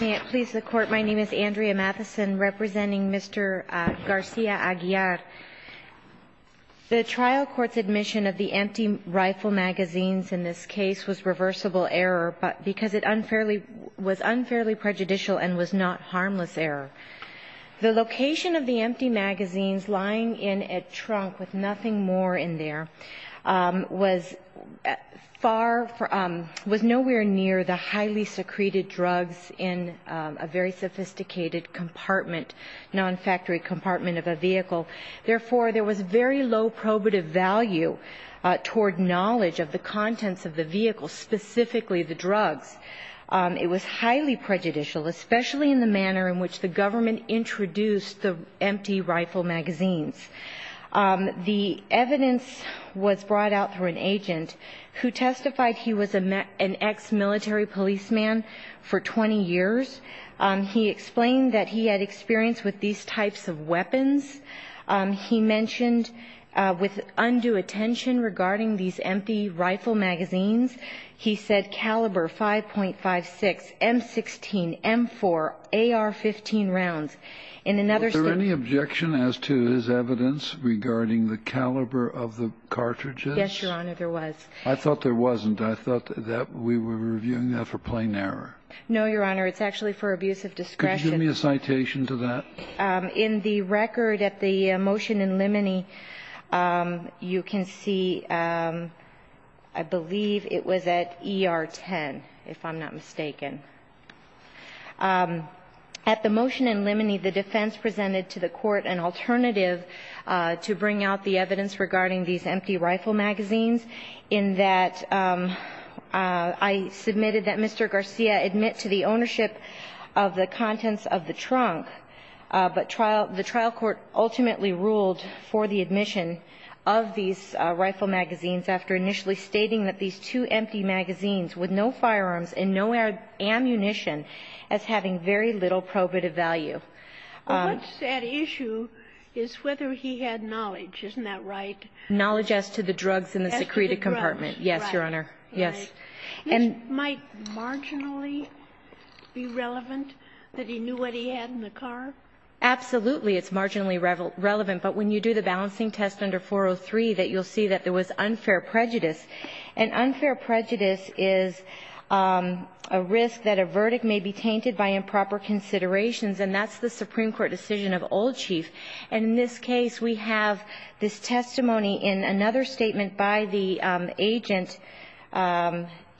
The trial court's admission of the empty rifle magazines in this case was reversible error because it was unfairly prejudicial and was not harmless error. The location of the empty magazines lying in a trunk with nothing more in there was far, was nowhere near the highly secreted drugs in a very sophisticated compartment, non-factory compartment of a vehicle. Therefore, there was very low probative value toward knowledge of the contents of the vehicle, specifically the drugs. It was highly prejudicial, especially in the manner in which the government introduced the empty rifle magazines. The evidence was brought out through an agent who testified he was an ex-military policeman for 20 years. He explained that he had experience with these types of weapons. He mentioned with undue attention regarding these empty rifle magazines, he said caliber 5.56, M16, M4, AR-15 rounds. In another statement... Was there any objection as to his evidence regarding the caliber of the cartridges? Yes, Your Honor, there was. I thought there wasn't. I thought that we were reviewing that for plain error. No, Your Honor. It's actually for abuse of discretion. Could you give me a citation to that? In the record at the motion in limine, you can see, I believe it was at ER-10, if I'm not mistaken. At the motion in limine, the defense presented to the court an alternative to bring out the evidence regarding these empty rifle magazines, in that I submitted that Mr. Garcia admit to the ownership of the contents of the trunk, but trial the trial court ultimately ruled for the admission of these rifle magazines after initially stating that these two empty magazines with no firearms and no ammunition as having very little probative value. What's at issue is whether he had knowledge. Isn't that right? Knowledge as to the drugs in the secreted compartment. As to the drugs. Yes, Your Honor. Right. Yes. And... Might marginally be relevant that he knew what he had in the car? Absolutely, it's marginally relevant. But when you do the balancing test under 403, that you'll see that there was unfair prejudice. And unfair prejudice is a risk that a verdict may be tainted by improper considerations, and that's the Supreme Court decision of Old Chief. And in this case, we have this testimony in another statement by the agent.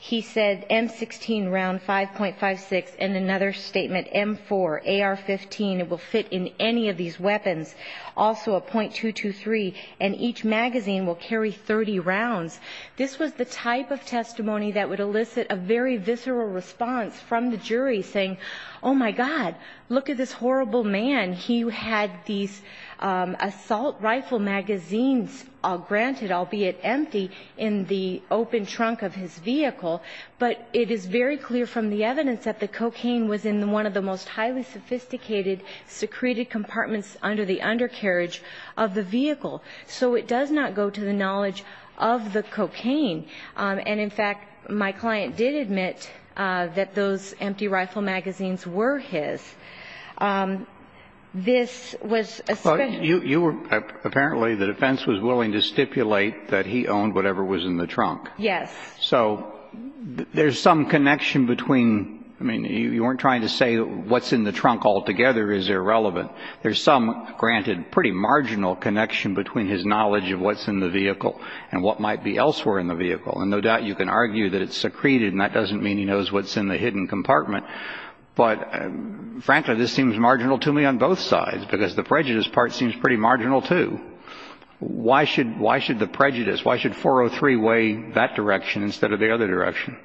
He said M16 round 5.56, and another statement M4 AR-15. It will fit in any of these weapons. Also a .223. And each magazine will carry 30 rounds. This was the type of testimony that would elicit a very visceral response from the jury saying, Oh, my God, look at this horrible man. He had these assault rifle magazines granted, albeit empty, in the open trunk of his vehicle. But it is very clear from the evidence that the cocaine was in one of the most highly sophisticated secreted compartments under the undercarriage of the vehicle. So it does not go to the knowledge of the cocaine. And, in fact, my client did admit that those empty rifle magazines were his. This was a special case. Well, you were – apparently the defense was willing to stipulate that he owned whatever was in the trunk. Yes. So there's some connection between – I mean, you weren't trying to say what's in the trunk altogether is irrelevant. There's some, granted, pretty marginal connection between his knowledge of what's in the vehicle and what might be elsewhere in the vehicle. And no doubt you can argue that it's secreted, and that doesn't mean he knows what's in the hidden compartment. But, frankly, this seems marginal to me on both sides, because the prejudice part seems pretty marginal, too. Why should – why should the prejudice – why should 403 weigh that direction instead of the other direction?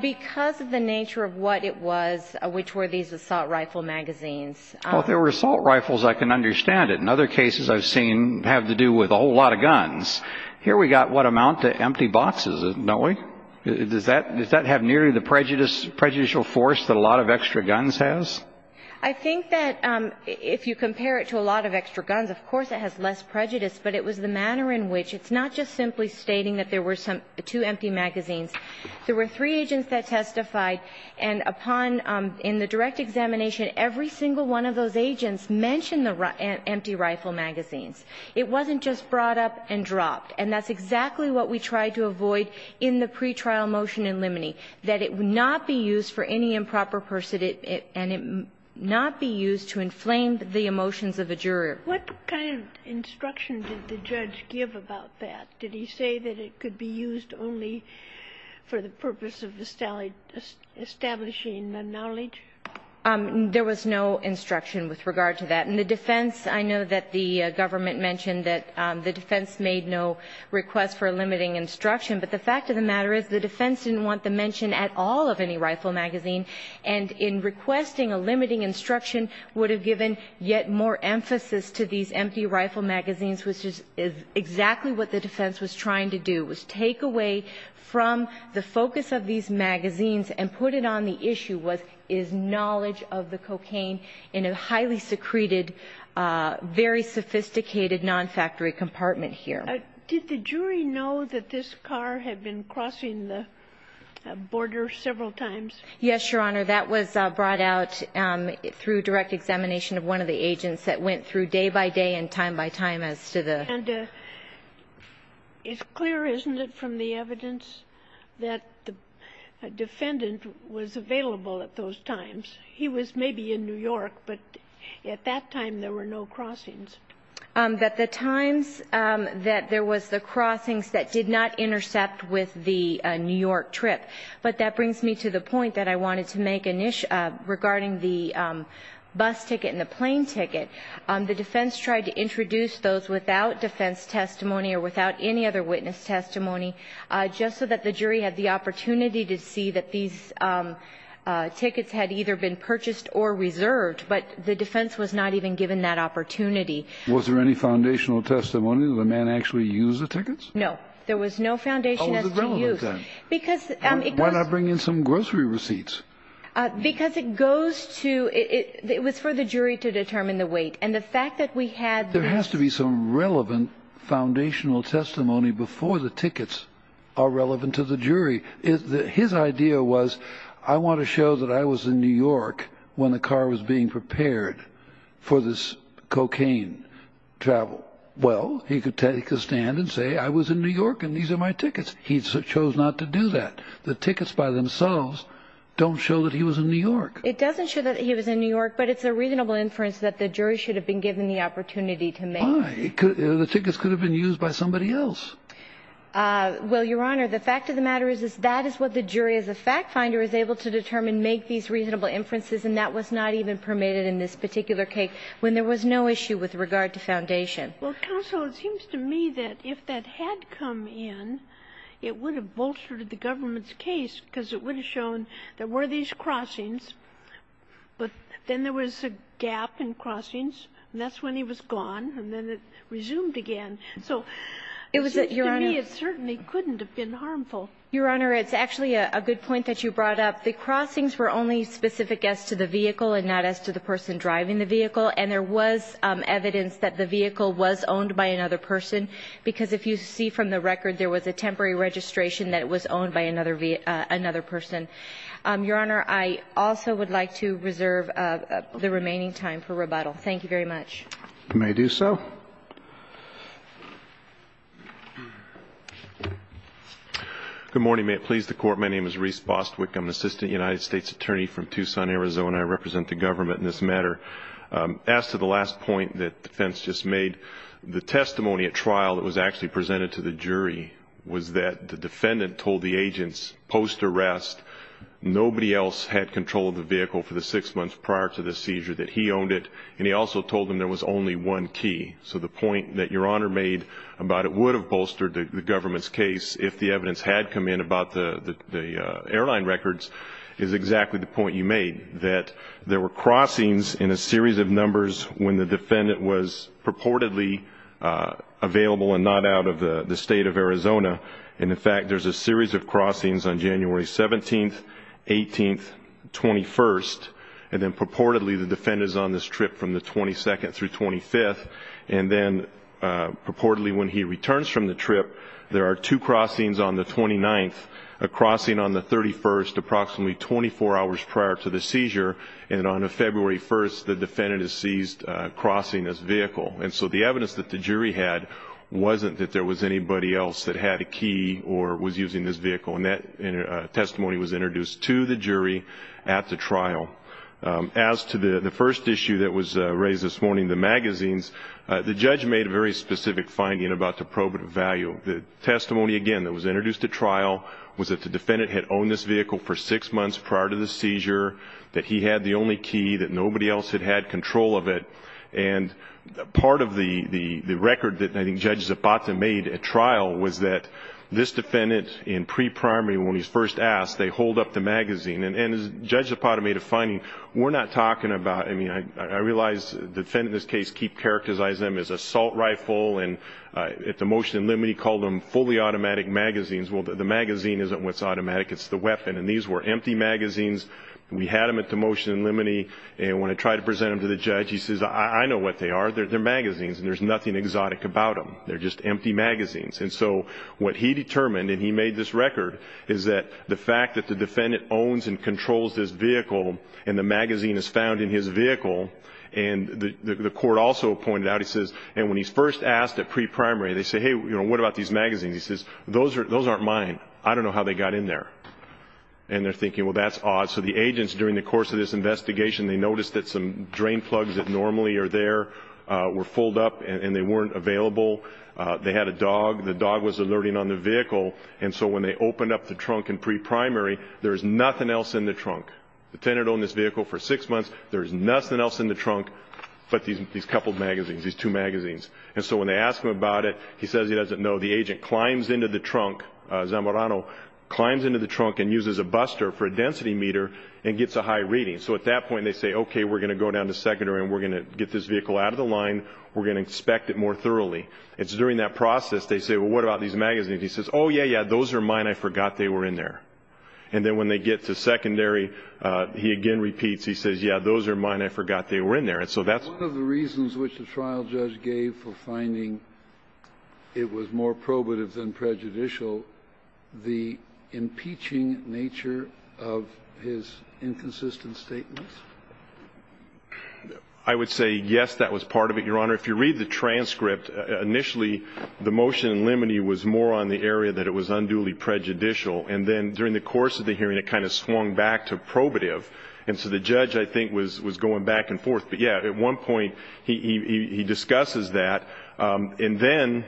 Because of the nature of what it was, which were these assault rifle magazines. Well, if they were assault rifles, I can understand it. In other cases I've seen have to do with a whole lot of guns. Here we've got what amount of empty boxes, don't we? Does that have nearly the prejudicial force that a lot of extra guns has? I think that if you compare it to a lot of extra guns, of course it has less prejudice. But it was the manner in which – it's not just simply stating that there were two empty magazines. There were three agents that testified. And upon – in the direct examination, every single one of those agents mentioned the empty rifle magazines. It wasn't just brought up and dropped. And that's exactly what we tried to avoid in the pretrial motion in Limoney, that it would not be used for any improper – and it not be used to inflame the emotions of a juror. What kind of instruction did the judge give about that? Did he say that it could be used only for the purpose of establishing the knowledge? There was no instruction with regard to that. In the defense, I know that the government mentioned that the defense made no request for a limiting instruction. But the fact of the matter is the defense didn't want the mention at all of any rifle magazine. And in requesting a limiting instruction would have given yet more emphasis to these empty rifle magazines, which is exactly what the defense was trying to do, was take away from the focus of these magazines and put it on the issue, which is knowledge of the cocaine in a highly secreted, very sophisticated non-factory compartment here. Did the jury know that this car had been crossing the border several times? Yes, Your Honor. That was brought out through direct examination of one of the agents that went through day by day and time by time as to the – And it's clear, isn't it, from the evidence that the defendant was available at those times. He was maybe in New York, but at that time there were no crossings. At the times that there was the crossings that did not intercept with the New York trip. But that brings me to the point that I wanted to make regarding the bus ticket and the plane ticket. The defense tried to introduce those without defense testimony or without any other witness testimony just so that the jury had the opportunity to see that these tickets had either been purchased or reserved. But the defense was not even given that opportunity. Was there any foundational testimony that the man actually used the tickets? No. There was no foundation as to the use. How was it relevant then? Because it goes – Why not bring in some grocery receipts? Because it goes to – it was for the jury to determine the weight. And the fact that we had – There has to be some relevant foundational testimony before the tickets are relevant to the jury. His idea was, I want to show that I was in New York when the car was being prepared for this cocaine travel. Well, he could stand and say, I was in New York and these are my tickets. He chose not to do that. The tickets by themselves don't show that he was in New York. It doesn't show that he was in New York, but it's a reasonable inference that the jury should have been given the opportunity to make. Why? The tickets could have been used by somebody else. Well, Your Honor, the fact of the matter is that is what the jury as a fact finder is able to determine make these reasonable inferences, and that was not even permitted in this particular case when there was no issue with regard to foundation. Well, counsel, it seems to me that if that had come in, it would have bolstered the government's case because it would have shown there were these crossings, but then there was a gap in crossings, and that's when he was gone, and then it resumed again. So it seems to me it certainly couldn't have been harmful. Your Honor, it's actually a good point that you brought up. The crossings were only specific as to the vehicle and not as to the person driving the vehicle, and there was evidence that the vehicle was owned by another person because if you see from the record, there was a temporary registration that it was owned by another person. Your Honor, I also would like to reserve the remaining time for rebuttal. Thank you very much. You may do so. Good morning. May it please the Court. My name is Reese Bostwick. I'm an assistant United States attorney from Tucson, Arizona. I represent the government in this matter. As to the last point that defense just made, the testimony at trial that was actually presented to the jury was that the defendant told the agents post-arrest nobody else had control of the vehicle for the six months prior to the seizure, that he owned it, and he also told them there was only one key. So the point that Your Honor made about it would have bolstered the government's case if the evidence had come in about the airline records is exactly the point you made, that there were crossings in a series of numbers when the defendant was purportedly available and not out of the state of Arizona. And in fact, there's a series of crossings on January 17th, 18th, 21st, and then purportedly the defendant is on this trip from the 22nd through 25th, and then purportedly when he returns from the trip, there are two crossings on the 29th, a crossing on the 31st approximately 24 hours prior to the seizure, and on the February 1st, the defendant is seized crossing this vehicle. And so the evidence that the jury had wasn't that there was anybody else that had a key or was using this vehicle, and that testimony was introduced to the jury at the trial. As to the first issue that was raised this morning, the magazines, the judge made a very specific finding about the probative value. The testimony, again, that was introduced at trial was that the defendant had owned this vehicle for six months prior to the seizure, that he had the only key, that nobody else had had control of it. And part of the record that I think Judge Zapata made at trial was that this defendant in pre-primary when he was first asked, they hold up the magazine. And Judge Zapata made a finding, we're not talking about, I mean, I realize the defendant in this case characterized them as assault rifle, and at the motion in limine he called them fully automatic magazines. Well, the magazine isn't what's automatic, it's the weapon. And these were empty magazines. We had them at the motion in limine. And when I tried to present them to the judge, he says, I know what they are, they're magazines and there's nothing exotic about them. They're just empty magazines. And so what he determined, and he made this record, is that the fact that the defendant owns and controls this vehicle and the magazine is found in his vehicle, and the court also pointed out, he says, and when he's first asked at pre-primary, they say, hey, what about these magazines? He says, those aren't mine. I don't know how they got in there. And they're thinking, well, that's odd. So the agents during the course of this investigation, they noticed that some drain plugs that normally are there were pulled up and they weren't available. They had a dog. The dog was alerting on the vehicle. And so when they opened up the trunk in pre-primary, there was nothing else in the trunk. The defendant owned this vehicle for six months. There was nothing else in the trunk but these coupled magazines, these two magazines. And so when they asked him about it, he says he doesn't know. The agent climbs into the trunk, Zamorano, climbs into the trunk and uses a buster for a density meter and gets a high reading. So at that point, they say, okay, we're going to go down to secondary and we're going to get this vehicle out of the line. We're going to inspect it more thoroughly. And so during that process, they say, well, what about these magazines? He says, oh, yeah, yeah, those are mine. I forgot they were in there. And then when they get to secondary, he again repeats. He says, yeah, those are mine. I forgot they were in there. So that's one of the reasons which the trial judge gave for finding it was more probative than prejudicial, the impeaching nature of his inconsistent statements? I would say, yes, that was part of it, Your Honor. If you read the transcript, initially the motion in limine was more on the area that it was unduly prejudicial. And then during the course of the hearing, it kind of swung back to probative. And so the judge, I think, was going back and forth. But, yeah, at one point he discusses that. And then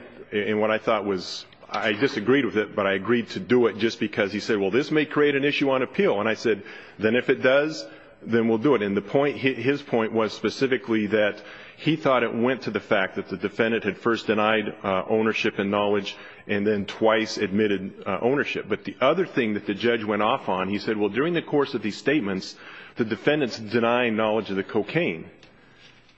what I thought was I disagreed with it, but I agreed to do it just because he said, well, this may create an issue on appeal. And I said, then if it does, then we'll do it. And the point, his point was specifically that he thought it went to the fact that the defendant had first denied ownership and knowledge and then twice admitted ownership. But the other thing that the judge went off on, he said, well, during the course of these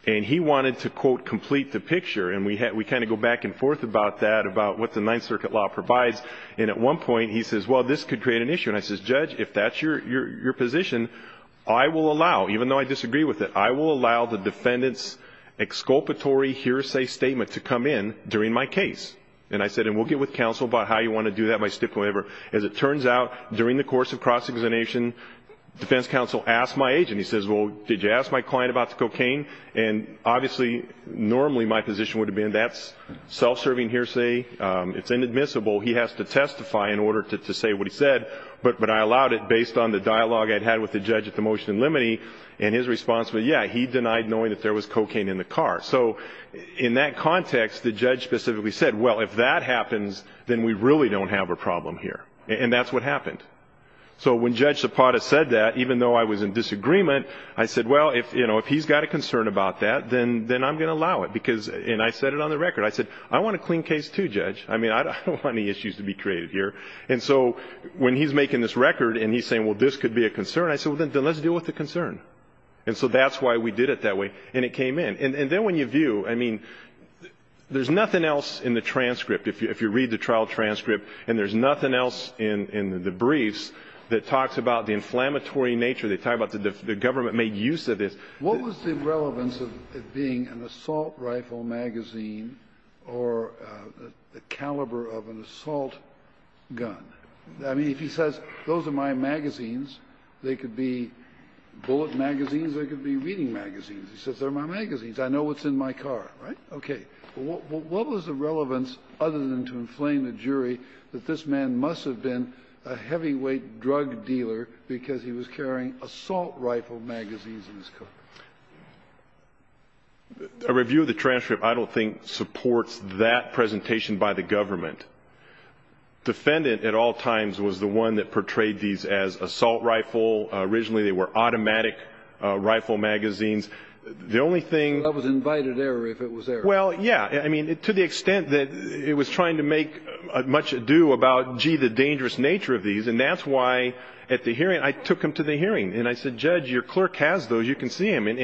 And he wanted to, quote, complete the picture. And we kind of go back and forth about that, about what the Ninth Circuit law provides. And at one point he says, well, this could create an issue. And I says, Judge, if that's your position, I will allow, even though I disagree with it, I will allow the defendant's exculpatory hearsay statement to come in during my case. And I said, and we'll get with counsel about how you want to do that, my stipulated waiver. As it turns out, during the course of cross-examination, defense counsel asked my agent. And he says, well, did you ask my client about the cocaine? And obviously, normally my position would have been that's self-serving hearsay. It's inadmissible. He has to testify in order to say what he said. But I allowed it based on the dialogue I'd had with the judge at the motion in limine. And his response was, yeah, he denied knowing that there was cocaine in the car. So in that context, the judge specifically said, well, if that happens, then we really don't have a problem here. And that's what happened. So when Judge Zapata said that, even though I was in disagreement, I said, well, if he's got a concern about that, then I'm going to allow it. And I said it on the record. I said, I want a clean case, too, Judge. I mean, I don't want any issues to be created here. And so when he's making this record and he's saying, well, this could be a concern, I said, well, then let's deal with the concern. And so that's why we did it that way. And it came in. And then when you view, I mean, there's nothing else in the transcript. If you read the trial transcript and there's nothing else in the briefs that talks about the inflammatory nature. They talk about the government made use of this. What was the relevance of being an assault rifle magazine or the caliber of an assault gun? I mean, if he says those are my magazines, they could be bullet magazines. They could be reading magazines. He says they're my magazines. I know what's in my car. Right. Okay. What was the relevance, other than to inflame the jury, that this man must have been a heavyweight drug dealer because he was carrying assault rifle magazines in his car? A review of the transcript I don't think supports that presentation by the government. Defendant at all times was the one that portrayed these as assault rifle. Originally they were automatic rifle magazines. The only thing. That was invited error if it was error. Well, yeah. I mean, to the extent that it was trying to make much ado about, gee, the dangerous nature of these. And that's why at the hearing I took him to the hearing. And I said, Judge, your clerk has those. You can see him. And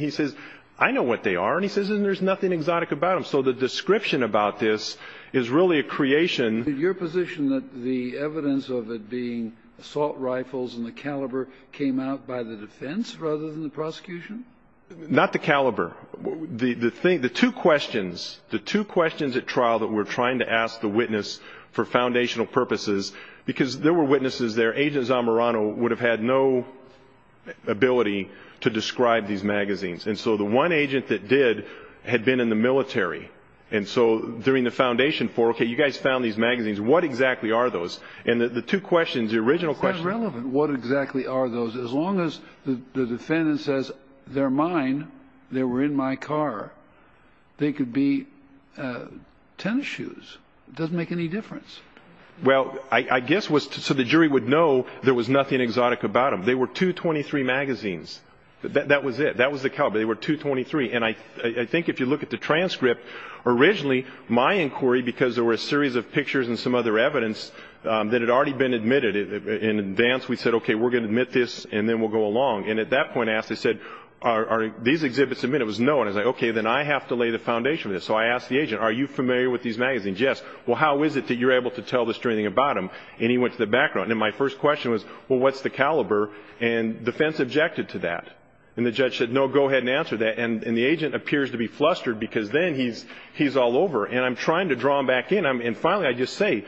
he says, I know what they are. And he says, and there's nothing exotic about them. So the description about this is really a creation. Your position that the evidence of it being assault rifles and the caliber came out by the defense rather than the prosecution? Not the caliber. The two questions, the two questions at trial that we're trying to ask the witness for foundational purposes, because there were witnesses there. Agent Zamorano would have had no ability to describe these magazines. And so the one agent that did had been in the military. And so during the foundation for, okay, you guys found these magazines. What exactly are those? And the two questions, the original question. It's not relevant what exactly are those. As long as the defendant says they're mine, they were in my car, they could be tennis shoes. It doesn't make any difference. Well, I guess so the jury would know there was nothing exotic about them. They were .223 magazines. That was it. That was the caliber. They were .223. And I think if you look at the transcript, originally my inquiry, because there were a series of pictures and some other evidence that had already been admitted in advance, we said, okay, we're going to admit this and then we'll go along. And at that point I asked, I said, are these exhibits admitted? It was no. And I said, okay, then I have to lay the foundation for this. So I asked the agent, are you familiar with these magazines? Yes. Well, how is it that you're able to tell the jury anything about them? And he went to the background. And my first question was, well, what's the caliber? And the defense objected to that. And the judge said, no, go ahead and answer that. And the agent appears to be flustered because then he's all over. And I'm trying to draw him back in. And finally I just say,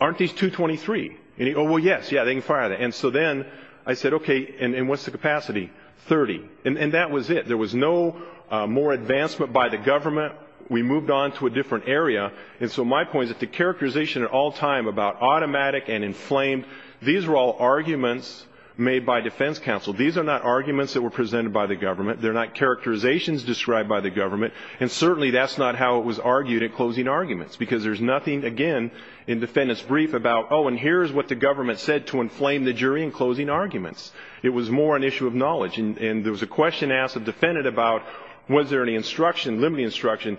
aren't these .223? And he, oh, well, yes, yeah, they can fire that. And so then I said, okay, and what's the capacity? Thirty. And that was it. There was no more advancement by the government. We moved on to a different area. And so my point is that the characterization at all time about automatic and inflamed, these were all arguments made by defense counsel. These are not arguments that were presented by the government. They're not characterizations described by the government. And certainly that's not how it was argued at closing arguments because there's nothing, again, in the defendant's brief about, oh, and here's what the government said to inflame the jury in closing arguments. It was more an issue of knowledge. And there was a question asked of the defendant about was there any instruction, limited instruction.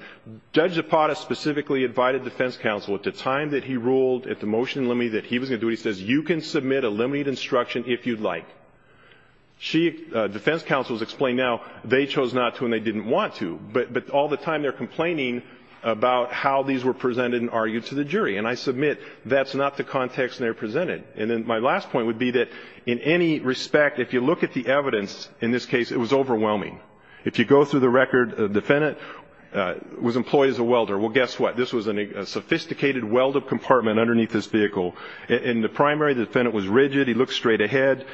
Judge Zapata specifically invited defense counsel at the time that he ruled at the motion that he was going to do it. He says, you can submit a limited instruction if you'd like. Defense counsel has explained now they chose not to and they didn't want to. But all the time they're complaining about how these were presented and argued to the jury. And I submit that's not the context in there presented. And then my last point would be that in any respect, if you look at the evidence in this case, it was overwhelming. If you go through the record, the defendant was employed as a welder. Well, guess what? This was a sophisticated weld-up compartment underneath this vehicle. In the primary, the defendant was rigid. He looked straight ahead.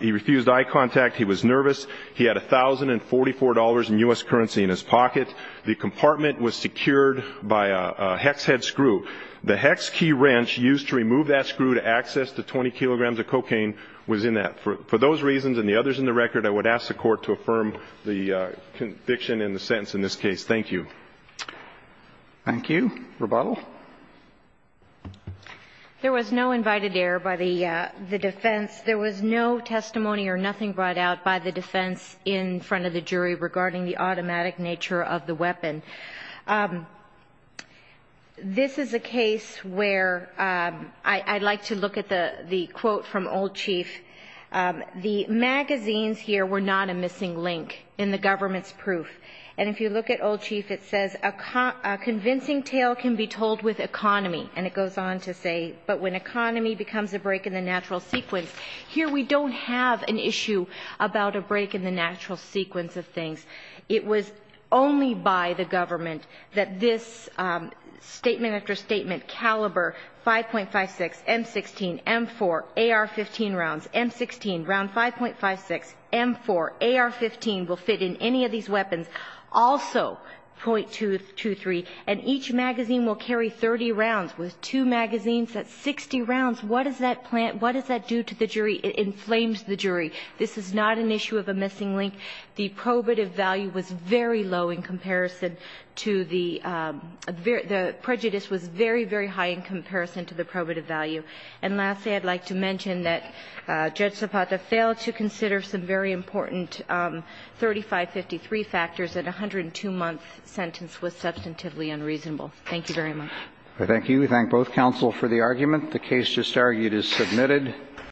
He refused eye contact. He was nervous. He had $1,044 in U.S. currency in his pocket. The compartment was secured by a hex head screw. The hex key wrench used to remove that screw to access the 20 kilograms of cocaine was in that. For those reasons and the others in the record, I would ask the Court to affirm the conviction in the sentence in this case. Thank you. Thank you. Rebuttal. There was no invited error by the defense. There was no testimony or nothing brought out by the defense in front of the jury regarding the automatic nature of the weapon. This is a case where I'd like to look at the quote from Old Chief. The magazines here were not a missing link in the government's proof. And if you look at Old Chief, it says, a convincing tale can be told with economy. And it goes on to say, but when economy becomes a break in the natural sequence, here we don't have an issue about a break in the natural sequence of things. It was only by the government that this statement after statement, caliber 5.56, M-16, M-4, AR-15 rounds, M-16, round 5.56, M-4, AR-15, will fit in any of these weapons, also .223. And each magazine will carry 30 rounds. With two magazines, that's 60 rounds. What does that plant do to the jury? It inflames the jury. This is not an issue of a missing link. The probative value was very low in comparison to the prejudice was very, very high in comparison to the probative value. And lastly, I'd like to mention that Judge Zapata failed to consider some very important 3553 factors in a 102-month sentence was substantively unreasonable. Thank you very much. Thank you. We thank both counsel for the argument. The case just argued is submitted.